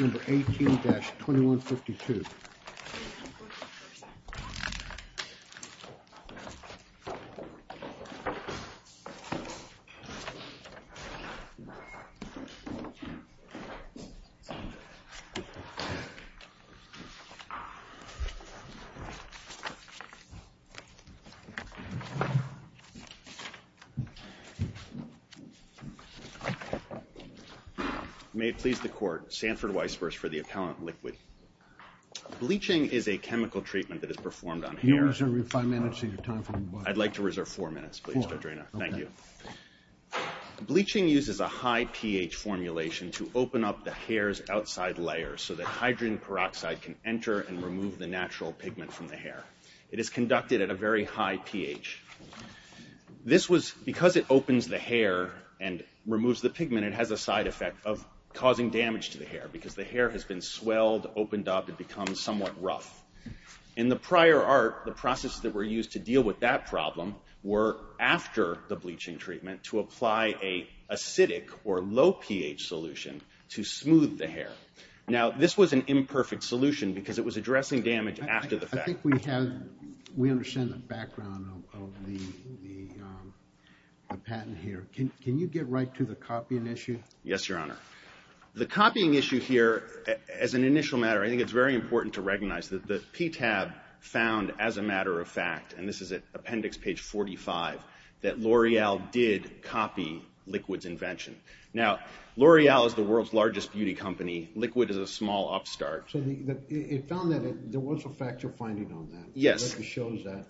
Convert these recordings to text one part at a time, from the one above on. Number 18-2152 May it please the court. Sanford Weisburst for the appellant, L'Eqwd. Bleaching is a chemical treatment that is performed on hair. Can you reserve five minutes of your time for me, please? I'd like to reserve four minutes, please, Dr. Draynor. Four, okay. Thank you. Bleaching uses a high pH formulation to open up the hair's outside layers so that hydrogen peroxide can enter and remove the natural pigment from the hair. It is conducted at a very high pH. This was, because it opens the hair and removes the pigment, it has a side effect of causing damage to the hair because the hair has been swelled, opened up, it becomes somewhat rough. In the prior art, the processes that were used to deal with that problem were, after the bleaching treatment, to apply an acidic or low pH solution to smooth the hair. Now this was an imperfect solution because it was addressing damage after the fact. I think we have, we understand the background of the patent here. Can you get right to the copying issue? Yes, Your Honor. The copying issue here, as an initial matter, I think it's very important to recognize that the PTAB found, as a matter of fact, and this is at appendix page 45, that L'Oreal did copy Liquid's invention. Now L'Oreal is the world's largest beauty company. Liquid is a small upstart. So it found that there was a factual finding on that. Yes. It shows that.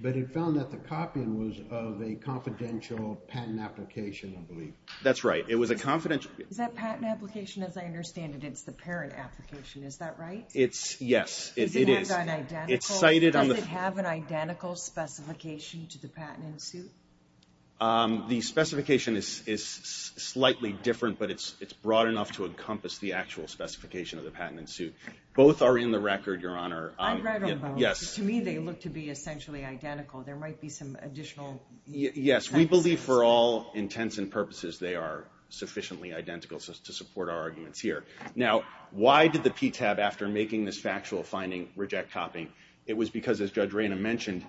But it found that the copying was of a confidential patent application, I believe. That's right. It was a confidential... Is that patent application? As I understand it, it's the parent application. Is that right? It's, yes. It is. Is it not an identical? It's cited on the... Does it have an identical specification to the patent in suit? The specification is slightly different, but it's broad enough to encompass the actual specification of the patent in suit. Both are in the record, Your Honor. I've read them both. Yes. To me, they look to be essentially identical. There might be some additional... Yes. We believe, for all intents and purposes, they are sufficiently identical to support our arguments here. Now, why did the PTAB, after making this factual finding, reject copying? It was because, as Judge Rayna mentioned,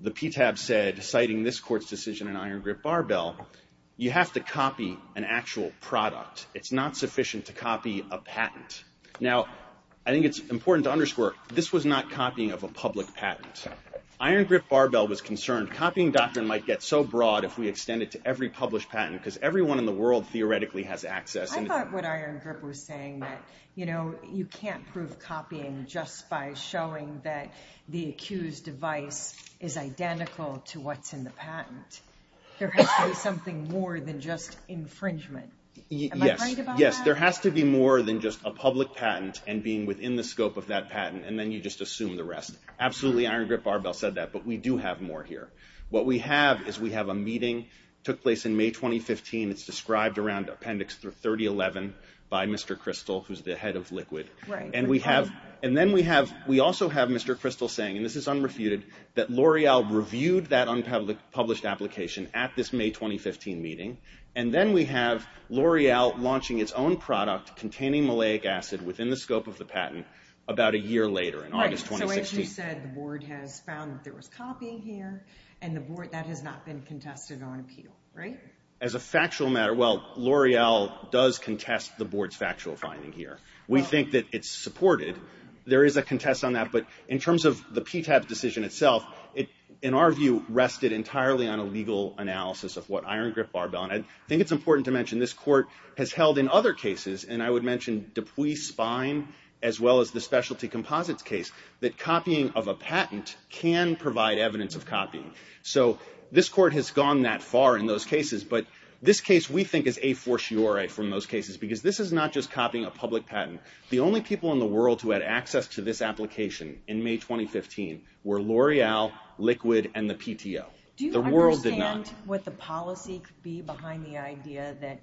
the PTAB said, citing this Court's decision in Iron Grip Barbell, you have to copy an actual product. It's not sufficient to copy a patent. Now, I think it's important to underscore, this was not copying of a public patent. Iron Grip Barbell was concerned copying doctrine might get so broad if we extend it to every published patent, because everyone in the world theoretically has access... I thought what Iron Grip was saying that, you know, you can't prove copying just by showing that the accused device is identical to what's in the patent. There has to be something more than just infringement. Am I right about that? Yes. There has to be more than just a public patent and being within the scope of that patent, and then you just assume the rest. Absolutely, Iron Grip Barbell said that, but we do have more here. What we have is we have a meeting, took place in May 2015. It's described around Appendix 3011 by Mr. Kristol, who's the head of Liquid. And then we also have Mr. Kristol saying, and this is unrefuted, that L'Oreal reviewed that unpublished application at this May 2015 meeting, and then we have L'Oreal launching its own product containing malic acid within the scope of the patent about a year later in August 2016. So you said the board has found that there was copying here, and the board, that has not been contested on appeal, right? As a factual matter, well, L'Oreal does contest the board's factual finding here. We think that it's supported. There is a contest on that, but in terms of the PTAB decision itself, in our view, rested entirely on a legal analysis of what Iron Grip Barbell, and I think it's important to mention this court has held in other cases, and I would mention Dupuis Spine, as well as the specialty composites case, that copying of a patent can provide evidence of copying. So this court has gone that far in those cases, but this case we think is a fortiori from those cases, because this is not just copying a public patent. The only people in the world who had access to this application in May 2015 were L'Oreal, Liquid, and the PTO. The world did not. Do you understand what the policy could be behind the idea that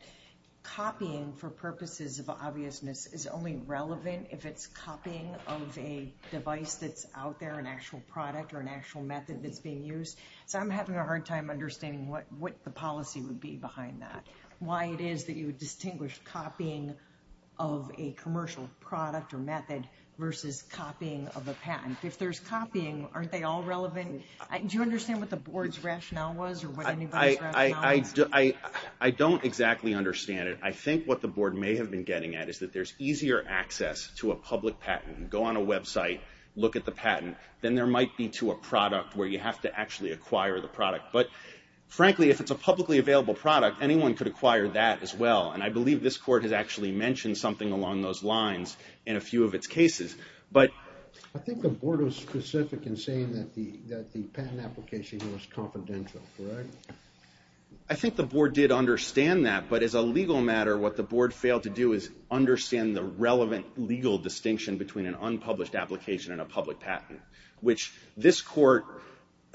copying for purposes of obviousness is only relevant if it's copying of a device that's out there, an actual product or an actual method that's being used? So I'm having a hard time understanding what the policy would be behind that. Why it is that you would distinguish copying of a commercial product or method versus copying of a patent. If there's copying, aren't they all relevant? Do you understand what the board's rationale was or what anybody's rationale was? I don't exactly understand it. I think what the board may have been getting at is that there's easier access to a public patent, go on a website, look at the patent, than there might be to a product where you have to actually acquire the product. But frankly, if it's a publicly available product, anyone could acquire that as well. And I believe this court has actually mentioned something along those lines in a few of its cases. But I think the board was specific in saying that the patent application was confidential, correct? I think the board did understand that. But as a legal matter, what the board failed to do is understand the relevant legal distinction between an unpublished application and a public patent, which this court,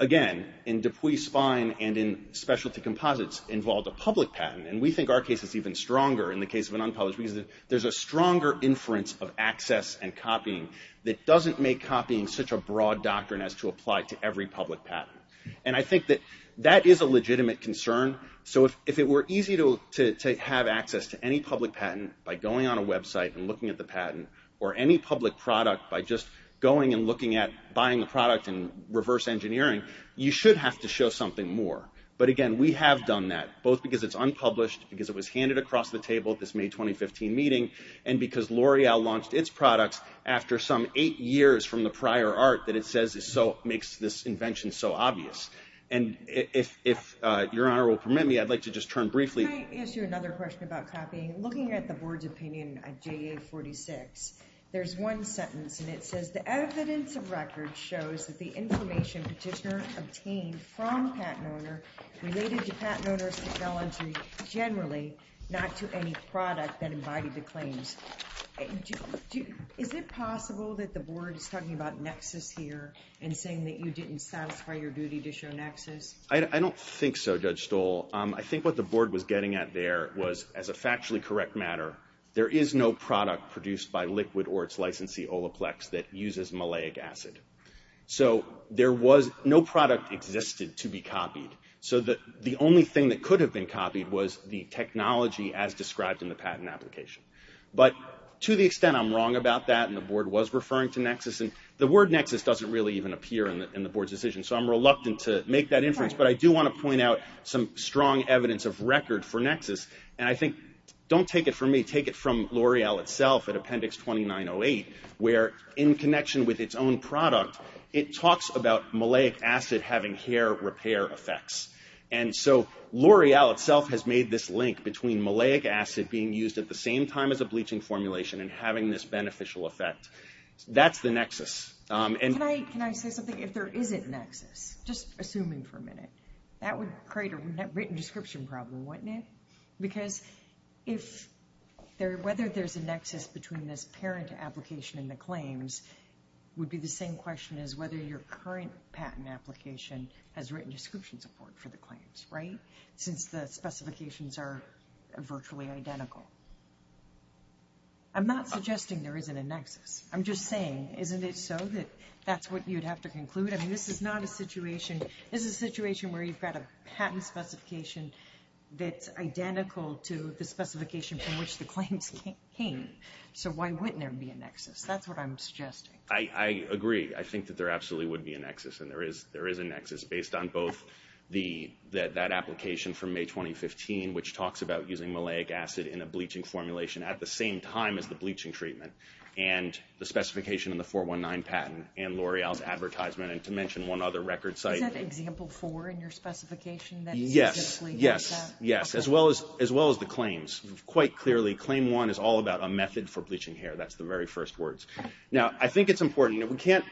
again, in Dupuy-Spine and in specialty composites, involved a public patent. And we think our case is even stronger in the case of an unpublished because there's a stronger inference of access and copying that doesn't make copying such a broad doctrine as to apply to every public patent. And I think that that is a legitimate concern. So if it were easy to have access to any public patent by going on a website and looking at the patent, or any public product by just going and looking at buying the product in reverse engineering, you should have to show something more. But again, we have done that, both because it's unpublished, because it was handed across the table at this May 2015 meeting, and because L'Oreal launched its products after some eight years from the prior art that it says makes this invention so obvious. And if Your Honor will permit me, I'd like to just turn briefly to- Can I ask you another question about copying? Looking at the board's opinion of JA 46, there's one sentence, and it says, the evidence of record shows that the information petitioner obtained from patent owner related to patent owner's technology generally, not to any product that embodied the claims. Is it possible that the board is talking about nexus here, and saying that you didn't satisfy your duty to show nexus? I don't think so, Judge Stoll. I think what the board was getting at there was, as a factually correct matter, there is no product produced by Liquid or its licensee, Olaplex, that uses malleic acid. So there was no product existed to be copied. So the only thing that could have been copied was the technology as described in the patent application. But to the extent I'm wrong about that, and the board was referring to nexus, the word nexus doesn't really even appear in the board's decision, so I'm reluctant to make that inference. But I do want to point out some strong evidence of record for nexus, and I think, don't take it from me, take it from L'Oreal itself at Appendix 2908, where in connection with its own product, it talks about malleic acid having hair repair effects. And so L'Oreal itself has made this link between malleic acid being used at the same time as a bleaching formulation and having this beneficial effect. That's the nexus. Can I say something? If there isn't nexus, just assuming for a minute, that would create a written description problem, wouldn't it? Because whether there's a nexus between this parent application and the claims would be the same question as whether your current patent application has written description support for the claims, right? Since the specifications are virtually identical. I'm not suggesting there isn't a nexus. I'm just saying, isn't it so that that's what you'd have to conclude? I mean, this is not a situation, this is a situation where you've got a patent specification that's identical to the specification from which the claims came. So why wouldn't there be a nexus? That's what I'm suggesting. I agree. I think that there absolutely would be a nexus, and there is a nexus, based on both that application from May 2015, which talks about using malleic acid in a bleaching formulation at the same time as the bleaching treatment, and the specification in the 419 patent, and L'Oreal's advertisement, and to mention one other record site. Is that example four in your specification that specifically does that? Yes. Yes. As well as the claims. Quite clearly, claim one is all about a method for bleaching hair. That's the very first words. Now, I think it's important, you know, we can't,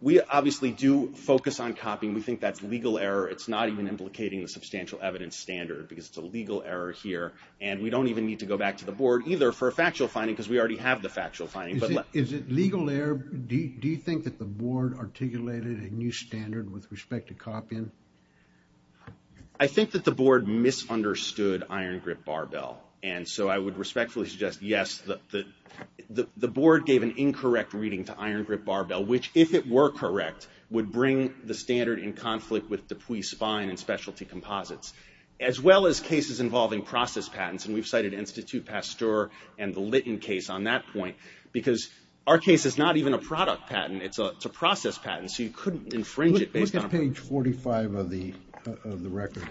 we obviously do focus on copying. We think that's legal error. It's not even implicating the substantial evidence standard, because it's a legal error here, and we don't even need to go back to the board either for a factual finding, because we already have the factual finding. Is it legal error? Do you think that the board articulated a new standard with respect to copying? I think that the board misunderstood iron grip barbell, and so I would respectfully suggest yes. The board gave an incorrect reading to iron grip barbell, which, if it were correct, would bring the standard in conflict with Dupuis spine and specialty composites, as well as cases involving process patents, and we've cited Institut Pasteur and the Litton case on that point, because our case is not even a product patent. It's a process patent, so you couldn't infringe it based on. Look at page 45 of the record.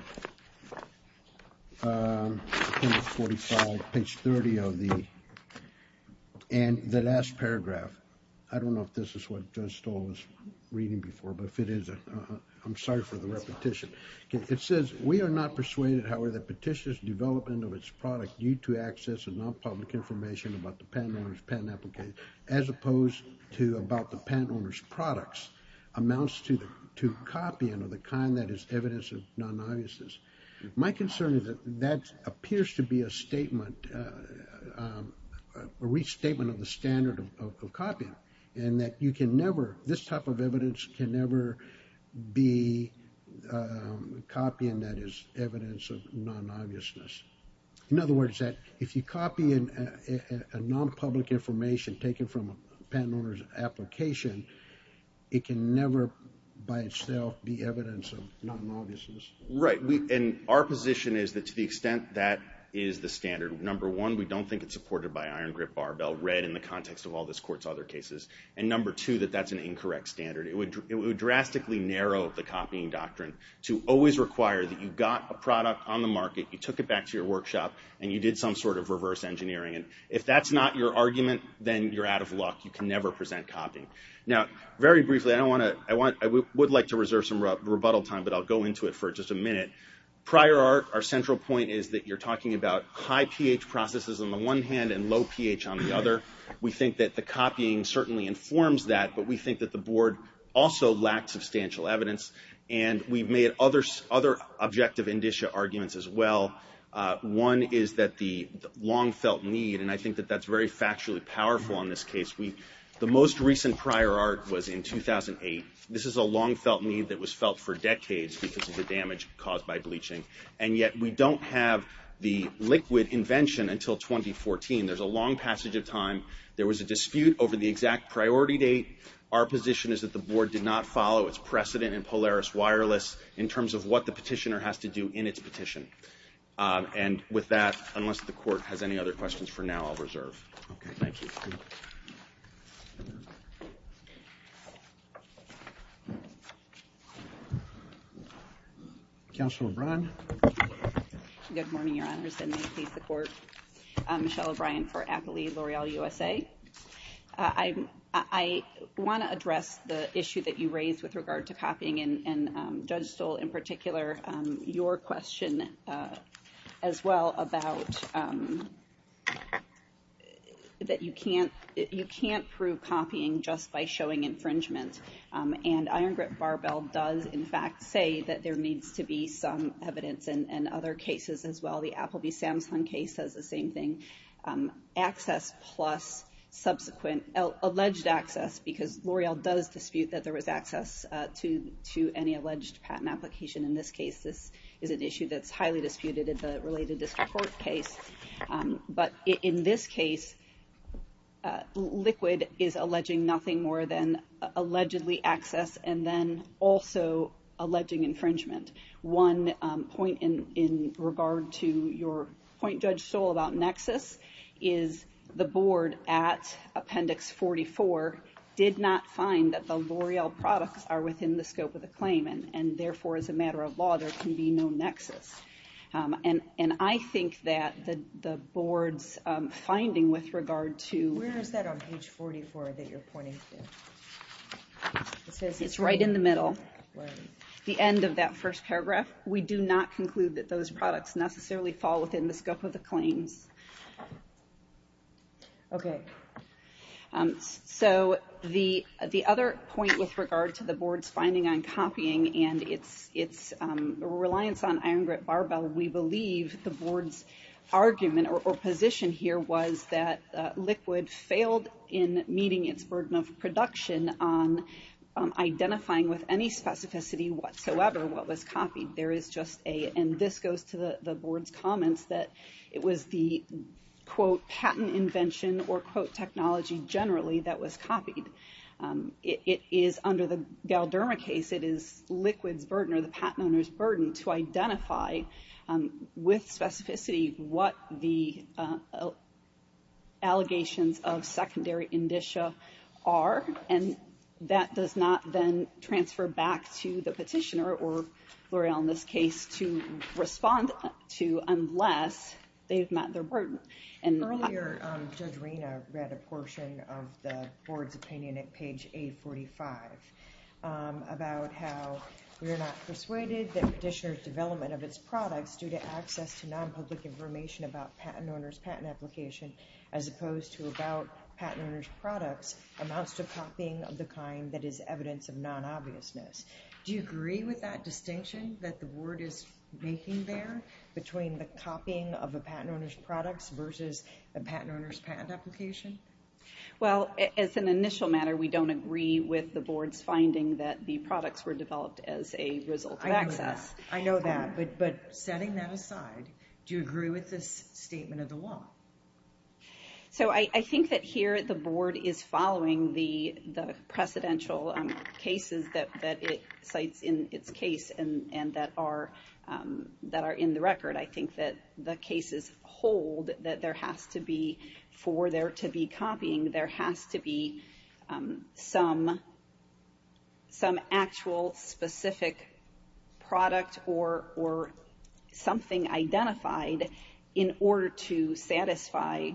Page 45, page 30 of the, and the last paragraph. I don't know if this is what Judge Stoll was reading before, but if it is, I'm sorry for the repetition. It says, we are not persuaded, however, that Petitioner's development of its product due to access of non-public information about the patent owner's patent application, as opposed to about the patent owner's products, amounts to copying of the kind that is evidence of non-obviousness. My concern is that that appears to be a statement, a restatement of the standard of copying, and that you can never, this type of evidence can never be copying that is evidence of non-obviousness. In other words, that if you copy a non-public information taken from a patent owner's application, it can never by itself be evidence of non-obviousness. Right. And our position is that to the extent that is the standard, number one, we don't think it's supported by Iron Grip, Barbell, Red, in the context of all this Court's other cases. And number two, that that's an incorrect standard. It would drastically narrow the copying doctrine to always require that you got a product on the market, you took it back to your workshop, and you did some sort of reverse engineering. If that's not your argument, then you're out of luck. You can never present copying. Now, very briefly, I don't want to, I would like to reserve some rebuttal time, but I'll go into it for just a minute. Prior art, our central point is that you're talking about high pH processes on the one hand and low pH on the other. We think that the copying certainly informs that, but we think that the Board also lacks substantial evidence. And we've made other objective indicia arguments as well. One is that the long-felt need, and I think that that's very factually powerful in this case. We, the most recent prior art was in 2008. This is a long-felt need that was felt for decades because of the damage caused by bleaching. And yet, we don't have the liquid invention until 2014. There's a long passage of time. There was a dispute over the exact priority date. Our position is that the Board did not follow its precedent in Polaris Wireless in terms of what the petitioner has to do in its petition. And with that, unless the Court has any other questions for now, I'll reserve. Okay, thank you. Counsel O'Brien? Good morning, Your Honors. And may it please the Court, I'm Michelle O'Brien for Appley L'Oreal USA. I want to address the issue that you raised with regard to copying, and Judge Stoll, in particular, your question as well about that you can't prove copying just by showing infringement And Iron Grip Barbell does, in fact, say that there needs to be some evidence in other cases as well. The Appleby Samsung case says the same thing. Access plus subsequent alleged access, because L'Oreal does dispute that there was access to any alleged patent application in this case. This is an issue that's highly disputed in the related district court case. But in this case, Liquid is alleging nothing more than allegedly access, and then also alleging infringement. One point in regard to your point, Judge Stoll, about nexus is the board at Appendix 44 did not find that the L'Oreal products are within the scope of the claim, and therefore, as a matter of law, there can be no nexus. And I think that the board's finding with regard to... Where is that on page 44 that you're pointing to? It's right in the middle, the end of that first paragraph. We do not conclude that those products necessarily fall within the scope of the claims. So the other point with regard to the board's finding on copying and its reliance on Iron Barbell, we believe the board's argument or position here was that Liquid failed in meeting its burden of production on identifying with any specificity whatsoever what was copied. There is just a... And this goes to the board's comments that it was the, quote, patent invention or, quote, technology generally that was copied. It is under the Galderma case, it is Liquid's burden or the patent owner's burden to identify with specificity what the allegations of secondary indicia are, and that does not then transfer back to the petitioner or L'Oreal in this case to respond to unless they've met their burden. And earlier, Judge Rina read a portion of the board's opinion at page 845 about how we are not persuaded that petitioner's development of its products due to access to non-public information about patent owner's patent application as opposed to about patent owner's products amounts to copying of the kind that is evidence of non-obviousness. Do you agree with that distinction that the board is making there between the copying of a patent owner's products versus a patent owner's patent application? Well, as an initial matter, we don't agree with the board's finding that the products were developed as a result of access. I know that, but setting that aside, do you agree with this statement of the law? So I think that here the board is following the precedential cases that it cites in its record. I think that the cases hold that there has to be, for there to be copying, there has to be some actual specific product or something identified in order to satisfy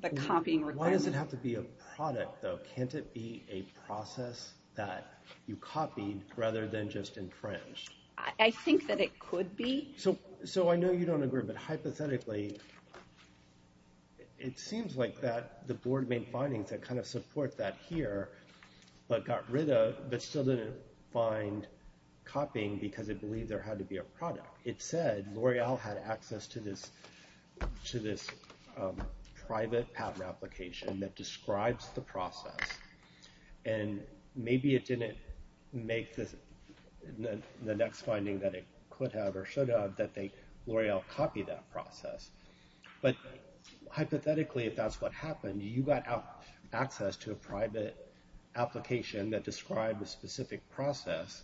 the copying requirement. Why does it have to be a product, though? Can't it be a process that you copied rather than just infringed? I think that it could be. So I know you don't agree, but hypothetically, it seems like that the board made findings that kind of support that here, but got rid of, but still didn't find copying because it believed there had to be a product. It said L'Oreal had access to this private patent application that describes the process, and maybe it didn't make the next finding that it could have or should have that L'Oreal copied that process. But hypothetically, if that's what happened, you got access to a private application that described a specific process,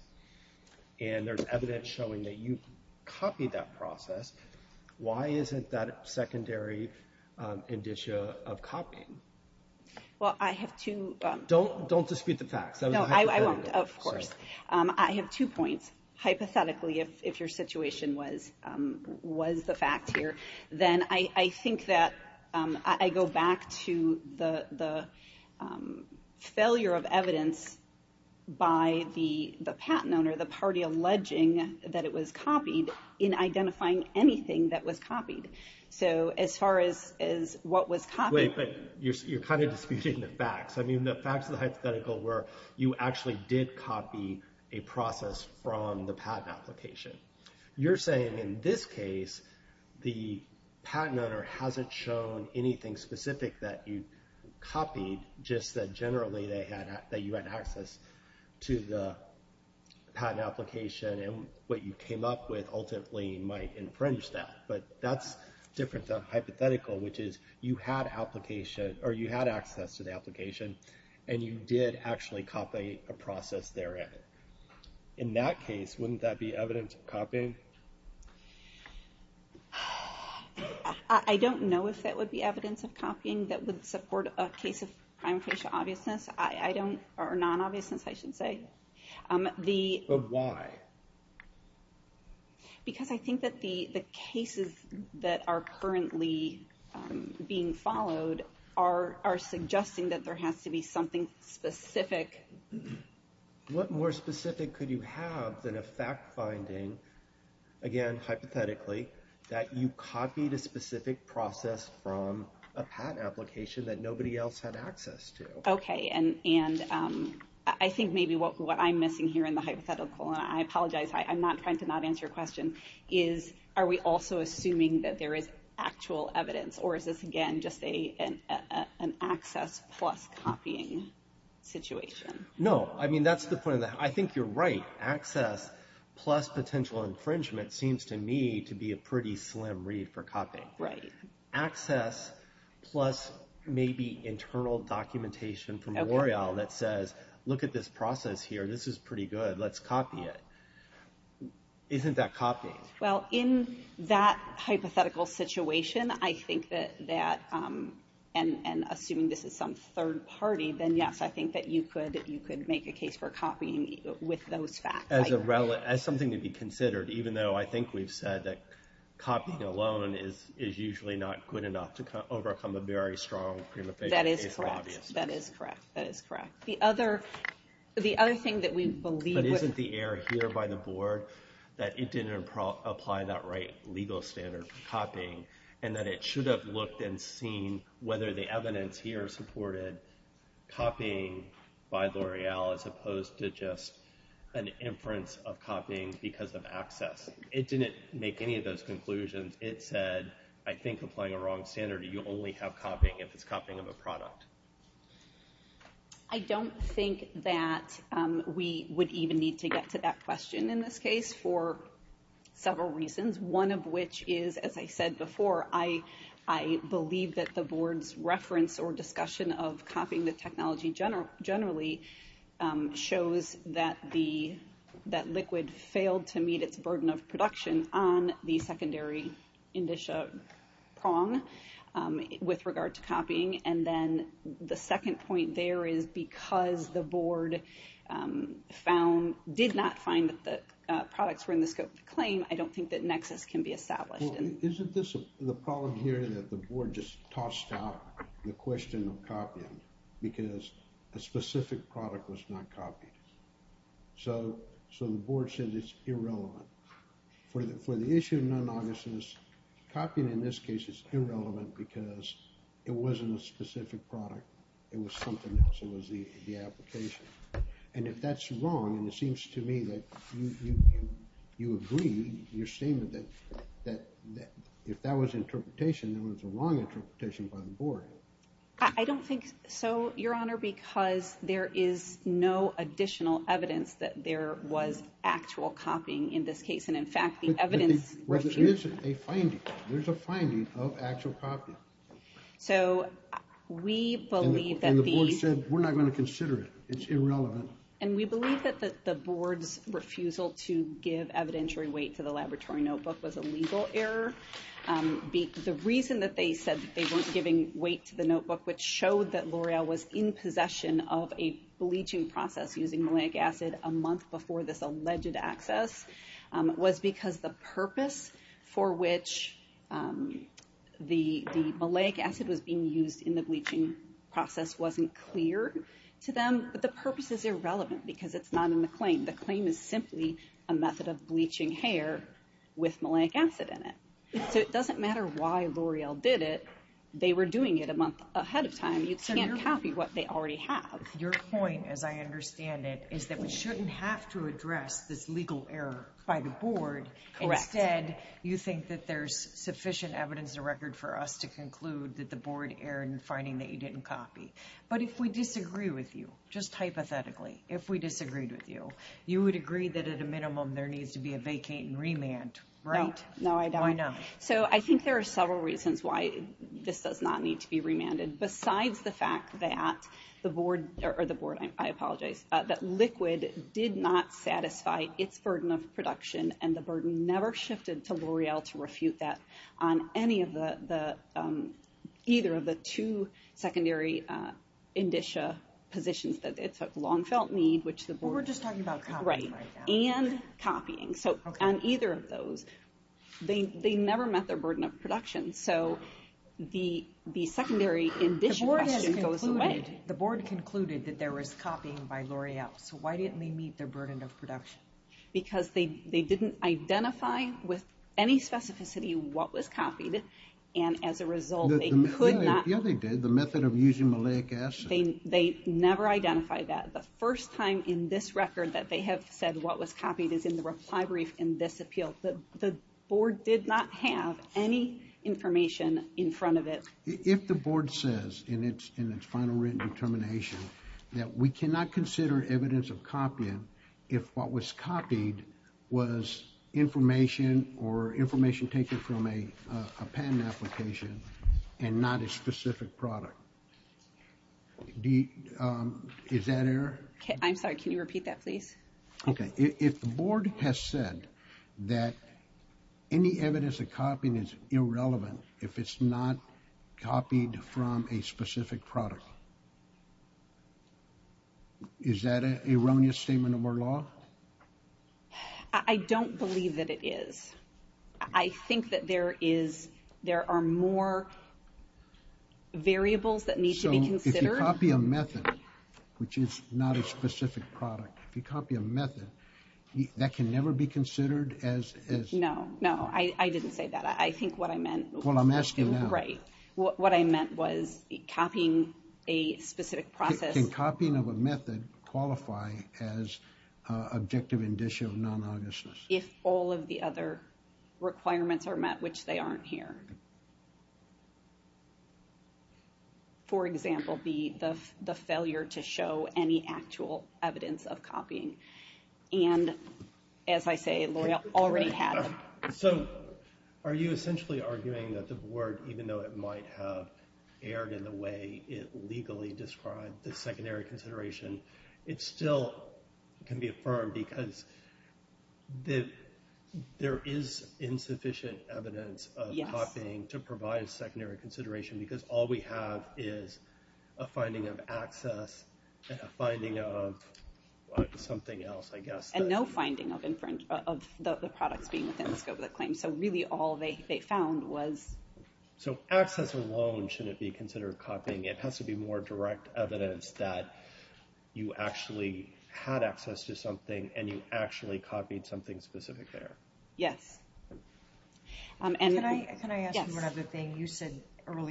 and there's evidence showing that you copied that process, Don't dispute the facts. I won't, of course. I have two points. Hypothetically, if your situation was the fact here, then I think that I go back to the failure of evidence by the patent owner, the party alleging that it was copied, in identifying anything that was copied. So as far as what was copied... Wait, but you're kind of disputing the facts. I mean, the facts of the hypothetical were you actually did copy a process from the patent application. You're saying in this case, the patent owner hasn't shown anything specific that you copied, just that generally that you had access to the patent application and what you came up with ultimately might infringe that. But that's different than hypothetical, which is you had access to the application and you did actually copy a process therein. In that case, wouldn't that be evidence of copying? I don't know if that would be evidence of copying that would support a case of prime facial obviousness, or non-obviousness, I should say. But why? Because I think that the cases that are currently being followed are suggesting that there has to be something specific. What more specific could you have than a fact finding, again, hypothetically, that you copied a specific process from a patent application that nobody else had access to? Okay. And I think maybe what I'm missing here in the hypothetical, and I apologize, I'm trying to not answer your question, is are we also assuming that there is actual evidence? Or is this, again, just an access plus copying situation? No. I mean, that's the point of that. I think you're right. Access plus potential infringement seems to me to be a pretty slim read for copying. Right. Access plus maybe internal documentation from L'Oreal that says, look at this process here, this is pretty good, let's copy it. Isn't that copying? Well, in that hypothetical situation, I think that, and assuming this is some third party, then yes, I think that you could make a case for copying with those facts. As something to be considered, even though I think we've said that copying alone is usually not good enough to overcome a very strong prima facie case of obviousness. That is correct. That is correct. That is correct. The other thing that we believe with- But isn't the error here by the board that it didn't apply that right legal standard for copying, and that it should have looked and seen whether the evidence here supported copying by L'Oreal as opposed to just an inference of copying because of access. It didn't make any of those conclusions. It said, I think applying a wrong standard, you only have copying if it's copying of a product. I don't think that we would even need to get to that question in this case for several reasons. One of which is, as I said before, I believe that the board's reference or discussion of copying the technology generally shows that liquid failed to meet its burden of production on the secondary indicia prong with regard to copying. And then the second point there is because the board did not find that the products were in the scope of the claim, I don't think that nexus can be established. Isn't this the problem here that the board just tossed out the question of copying because a specific product was not copied? So the board said it's irrelevant. For the issue of non-obviousness, copying in this case is irrelevant because it wasn't a specific product. It was something else. It was the application. And if that's wrong, and it seems to me that you agree, you're saying that if that was interpretation, it was a wrong interpretation by the board. I don't think so, Your Honor, because there is no additional evidence that there was actual copying in this case. And in fact, the evidence... But there's a finding. There's a finding of actual copying. So we believe that the... And the board said, we're not going to consider it. It's irrelevant. And we believe that the board's refusal to give evidentiary weight to the laboratory notebook was a legal error. The reason that they said they weren't giving weight to the notebook, which showed that L'Oreal was in possession of a bleaching process using malic acid a month before this alleged access, was because the purpose for which the malic acid was being used in the bleaching process wasn't clear to them. But the purpose is irrelevant because it's not in the claim. The claim is simply a method of bleaching hair with malic acid in it. So it doesn't matter why L'Oreal did it. They were doing it a month ahead of time. You can't copy what they already have. Your point, as I understand it, is that we shouldn't have to address this legal error by the board. Correct. Instead, you think that there's sufficient evidence and record for us to conclude that the board erred in finding that you didn't copy. But if we disagree with you, just hypothetically, if we disagreed with you, you would agree that at a minimum there needs to be a vacate and remand, right? No, I don't. Why not? So I think there are several reasons why this does not need to be remanded, besides the fact that the board, or the board, I apologize, that Liquid did not satisfy its burden of production and the burden never shifted to L'Oreal to refute that on any of the, either of the two secondary indicia positions that it took, long felt need, which the board... Well, we're just talking about copying right now. Right. And copying. So on either of those, they never met their burden of production. So the secondary indicia question goes away. The board has concluded, the board concluded that there was copying by L'Oreal. So why didn't they meet their burden of production? Because they didn't identify with any specificity what was copied. And as a result, they could not... Yeah, they did. The method of using maleic acid. They never identified that. The first time in this record that they have said what was copied is in the reply brief in this appeal. The board did not have any information in front of it. If the board says in its final written determination that we cannot consider evidence of copying if what was copied was information or information taken from a patent application and not a specific product. Is that error? I'm sorry. Can you repeat that, please? Okay. If the board has said that any evidence of copying is irrelevant if it's not copied from a specific product, is that an erroneous statement of our law? I don't believe that it is. I think that there are more variables that need to be considered. So if you copy a method, which is not a specific product, if you copy a method, that can never be considered as... No, no. I didn't say that. I think what I meant... Well, I'm asking now. Right. What I meant was copying a specific process... Can copying of a method qualify as objective indicia of non-honestness? If all of the other requirements are met, which they aren't here. For example, the failure to show any actual evidence of copying. And as I say, L'Oreal already had... So are you essentially arguing that the board, even though it might have erred in the way it legally described the secondary consideration, it still can be affirmed because there is insufficient evidence of copying to provide a secondary consideration because all we have is a finding of access and a finding of something else, I guess. And no finding of the products being within the scope of the claim. So really all they found was... So access alone shouldn't be considered copying. It has to be more direct evidence that you actually had access to something and you actually copied something specific there. Yes. Can I ask you one other thing? How do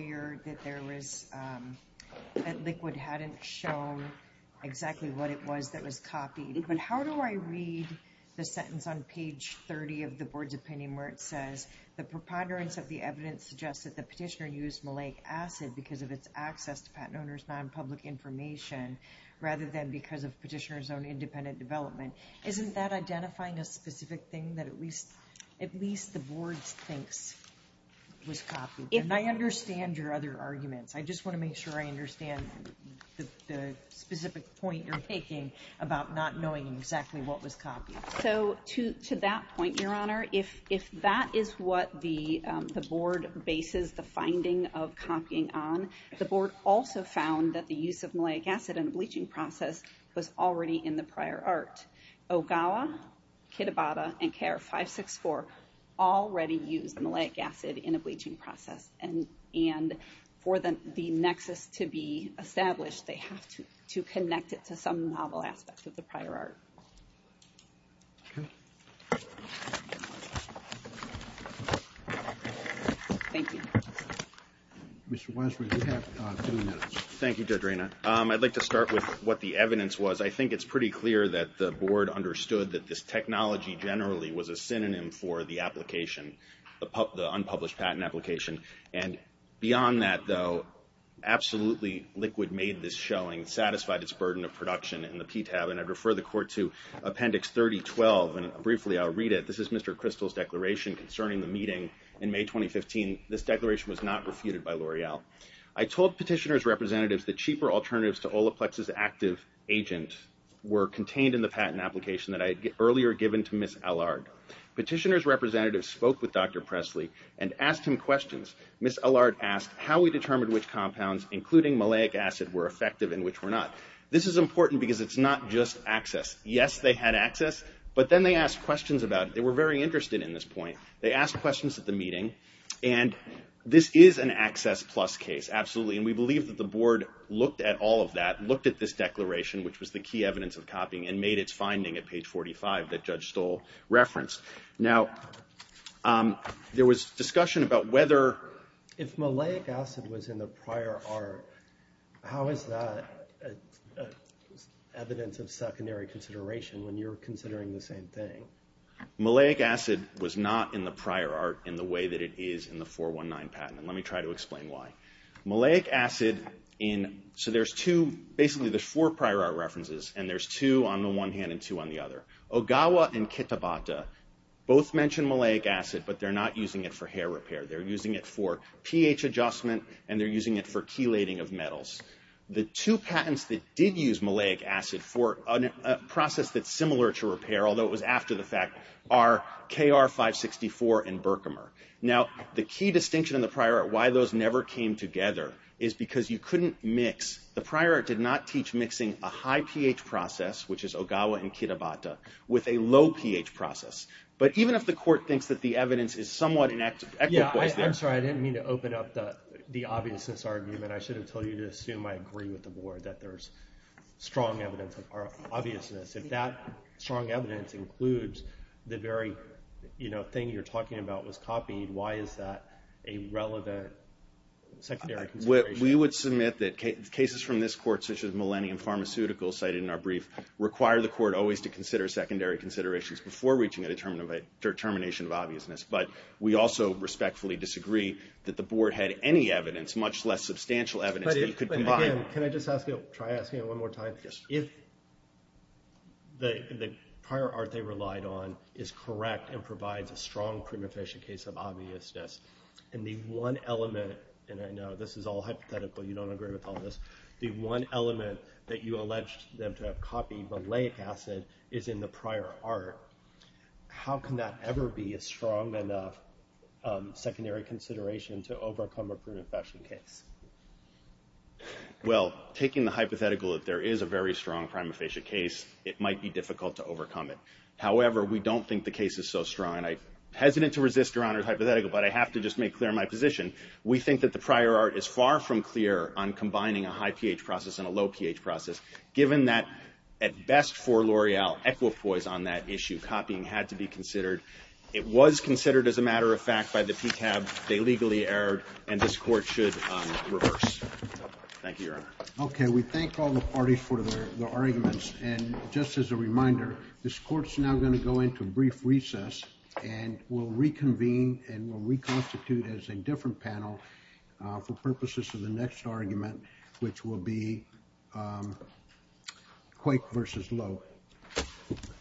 I read the sentence on page 30 of the board's opinion where it says, the preponderance of the evidence suggests that the petitioner used malic acid because of its access to patent owner's non-public information rather than because of petitioner's own independent development. Isn't that identifying a specific thing that at least the board thinks was copied? And I understand your other arguments. I just want to make sure I understand the specific point you're taking about not knowing exactly what was copied. So to that point, Your Honor, if that is what the board bases the finding of copying on, the board also found that the use of malic acid in a bleaching process was already in the prior art. Ogawa, Kitabata, and KR 564 already used malic acid in a bleaching process. And for the nexus to be established, they have to connect it to some novel aspect of the prior art. Okay. Thank you. Mr. Wiseman, you have two minutes. Thank you, Judge Reyna. I'd like to start with what the evidence was. I think it's pretty clear that the board understood that this technology generally was a synonym for the application, the unpublished patent application. And beyond that, though, absolutely liquid made this showing, satisfied its burden of production in the PTAB, and I'd refer the court to Appendix 3012, and briefly I'll read it. This is Mr. Kristol's declaration concerning the meeting in May 2015. This declaration was not refuted by L'Oreal. I told petitioner's representatives that cheaper alternatives to Olaplex's active agent were contained in the patent application that I had earlier given to Ms. Allard. Petitioner's representatives spoke with Dr. Presley and asked him questions. Ms. Allard asked how we determined which compounds, including maleic acid, were effective and which were not. This is important because it's not just access. Yes, they had access, but then they asked questions about it. They were very interested in this point. They asked questions at the meeting, and this is an access plus case, absolutely, and we believe that the board looked at all of that, looked at this declaration, which was the key evidence of copying, and made its finding at page 45 that Judge Stoll referenced. Now, there was discussion about whether... If maleic acid was in the prior art, how is that evidence of secondary consideration when you're considering the same thing? Maleic acid was not in the prior art in the way that it is in the 419 patent, and let me try to explain why. Maleic acid in... So there's two... Basically, there's four prior art references, and there's two on the one hand and two on the other. Ogawa and Kitabata both mention maleic acid, but they're not using it for hair repair. They're using it for pH adjustment, and they're using it for chelating of metals. The two patents that did use maleic acid for a process that's similar to repair, although it was after the fact, are KR-564 and Berkemer. Now, the key distinction in the prior art, why those never came together, is because you couldn't mix... The prior art did not teach mixing a high pH process, which is Ogawa and Kitabata, with a low pH process. But even if the court thinks that the evidence is somewhat inequitable... Yeah, I'm sorry, I didn't mean to open up the obviousness argument. I should have told you to assume I agree with the board that there's strong evidence of obviousness. If that strong evidence includes the very thing you're talking about was copied, why is that a relevant secondary consideration? We would submit that cases from this court, such as Millennium Pharmaceuticals, cited in our brief, require the court always to consider secondary considerations before reaching a determination of obviousness. But we also respectfully disagree that the board had any evidence, much less substantial evidence, that you could combine. Can I just ask you, try asking it one more time? Yes. If the prior art they relied on is correct and provides a strong prima facie case of obviousness, and the one element, and I know this is all hypothetical, you don't agree with all this, the one element that you alleged them to have copied malate acid is in the prior art, how can that ever be a strong enough secondary consideration to overcome a prima facie case? Well, taking the hypothetical that there is a very strong prima facie case, it might be difficult to overcome it. However, we don't think the case is so strong. I'm hesitant to resist Your Honor's hypothetical, but I have to just make clear my position. We think that the prior art is far from clear on combining a high pH process and a low pH process. Given that, at best for L'Oreal, equipoise on that issue, copying had to be considered. It was considered, as a matter of fact, by the PTAB. They legally erred, and this court should reverse. Thank you, Your Honor. Okay, we thank all the parties for their arguments, and just as a reminder, this court's now going to go into a brief recess and will reconvene and will reconstitute as a different panel for purposes of the next argument, which will be Quake versus Lowe.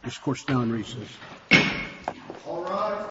This court's now in recess.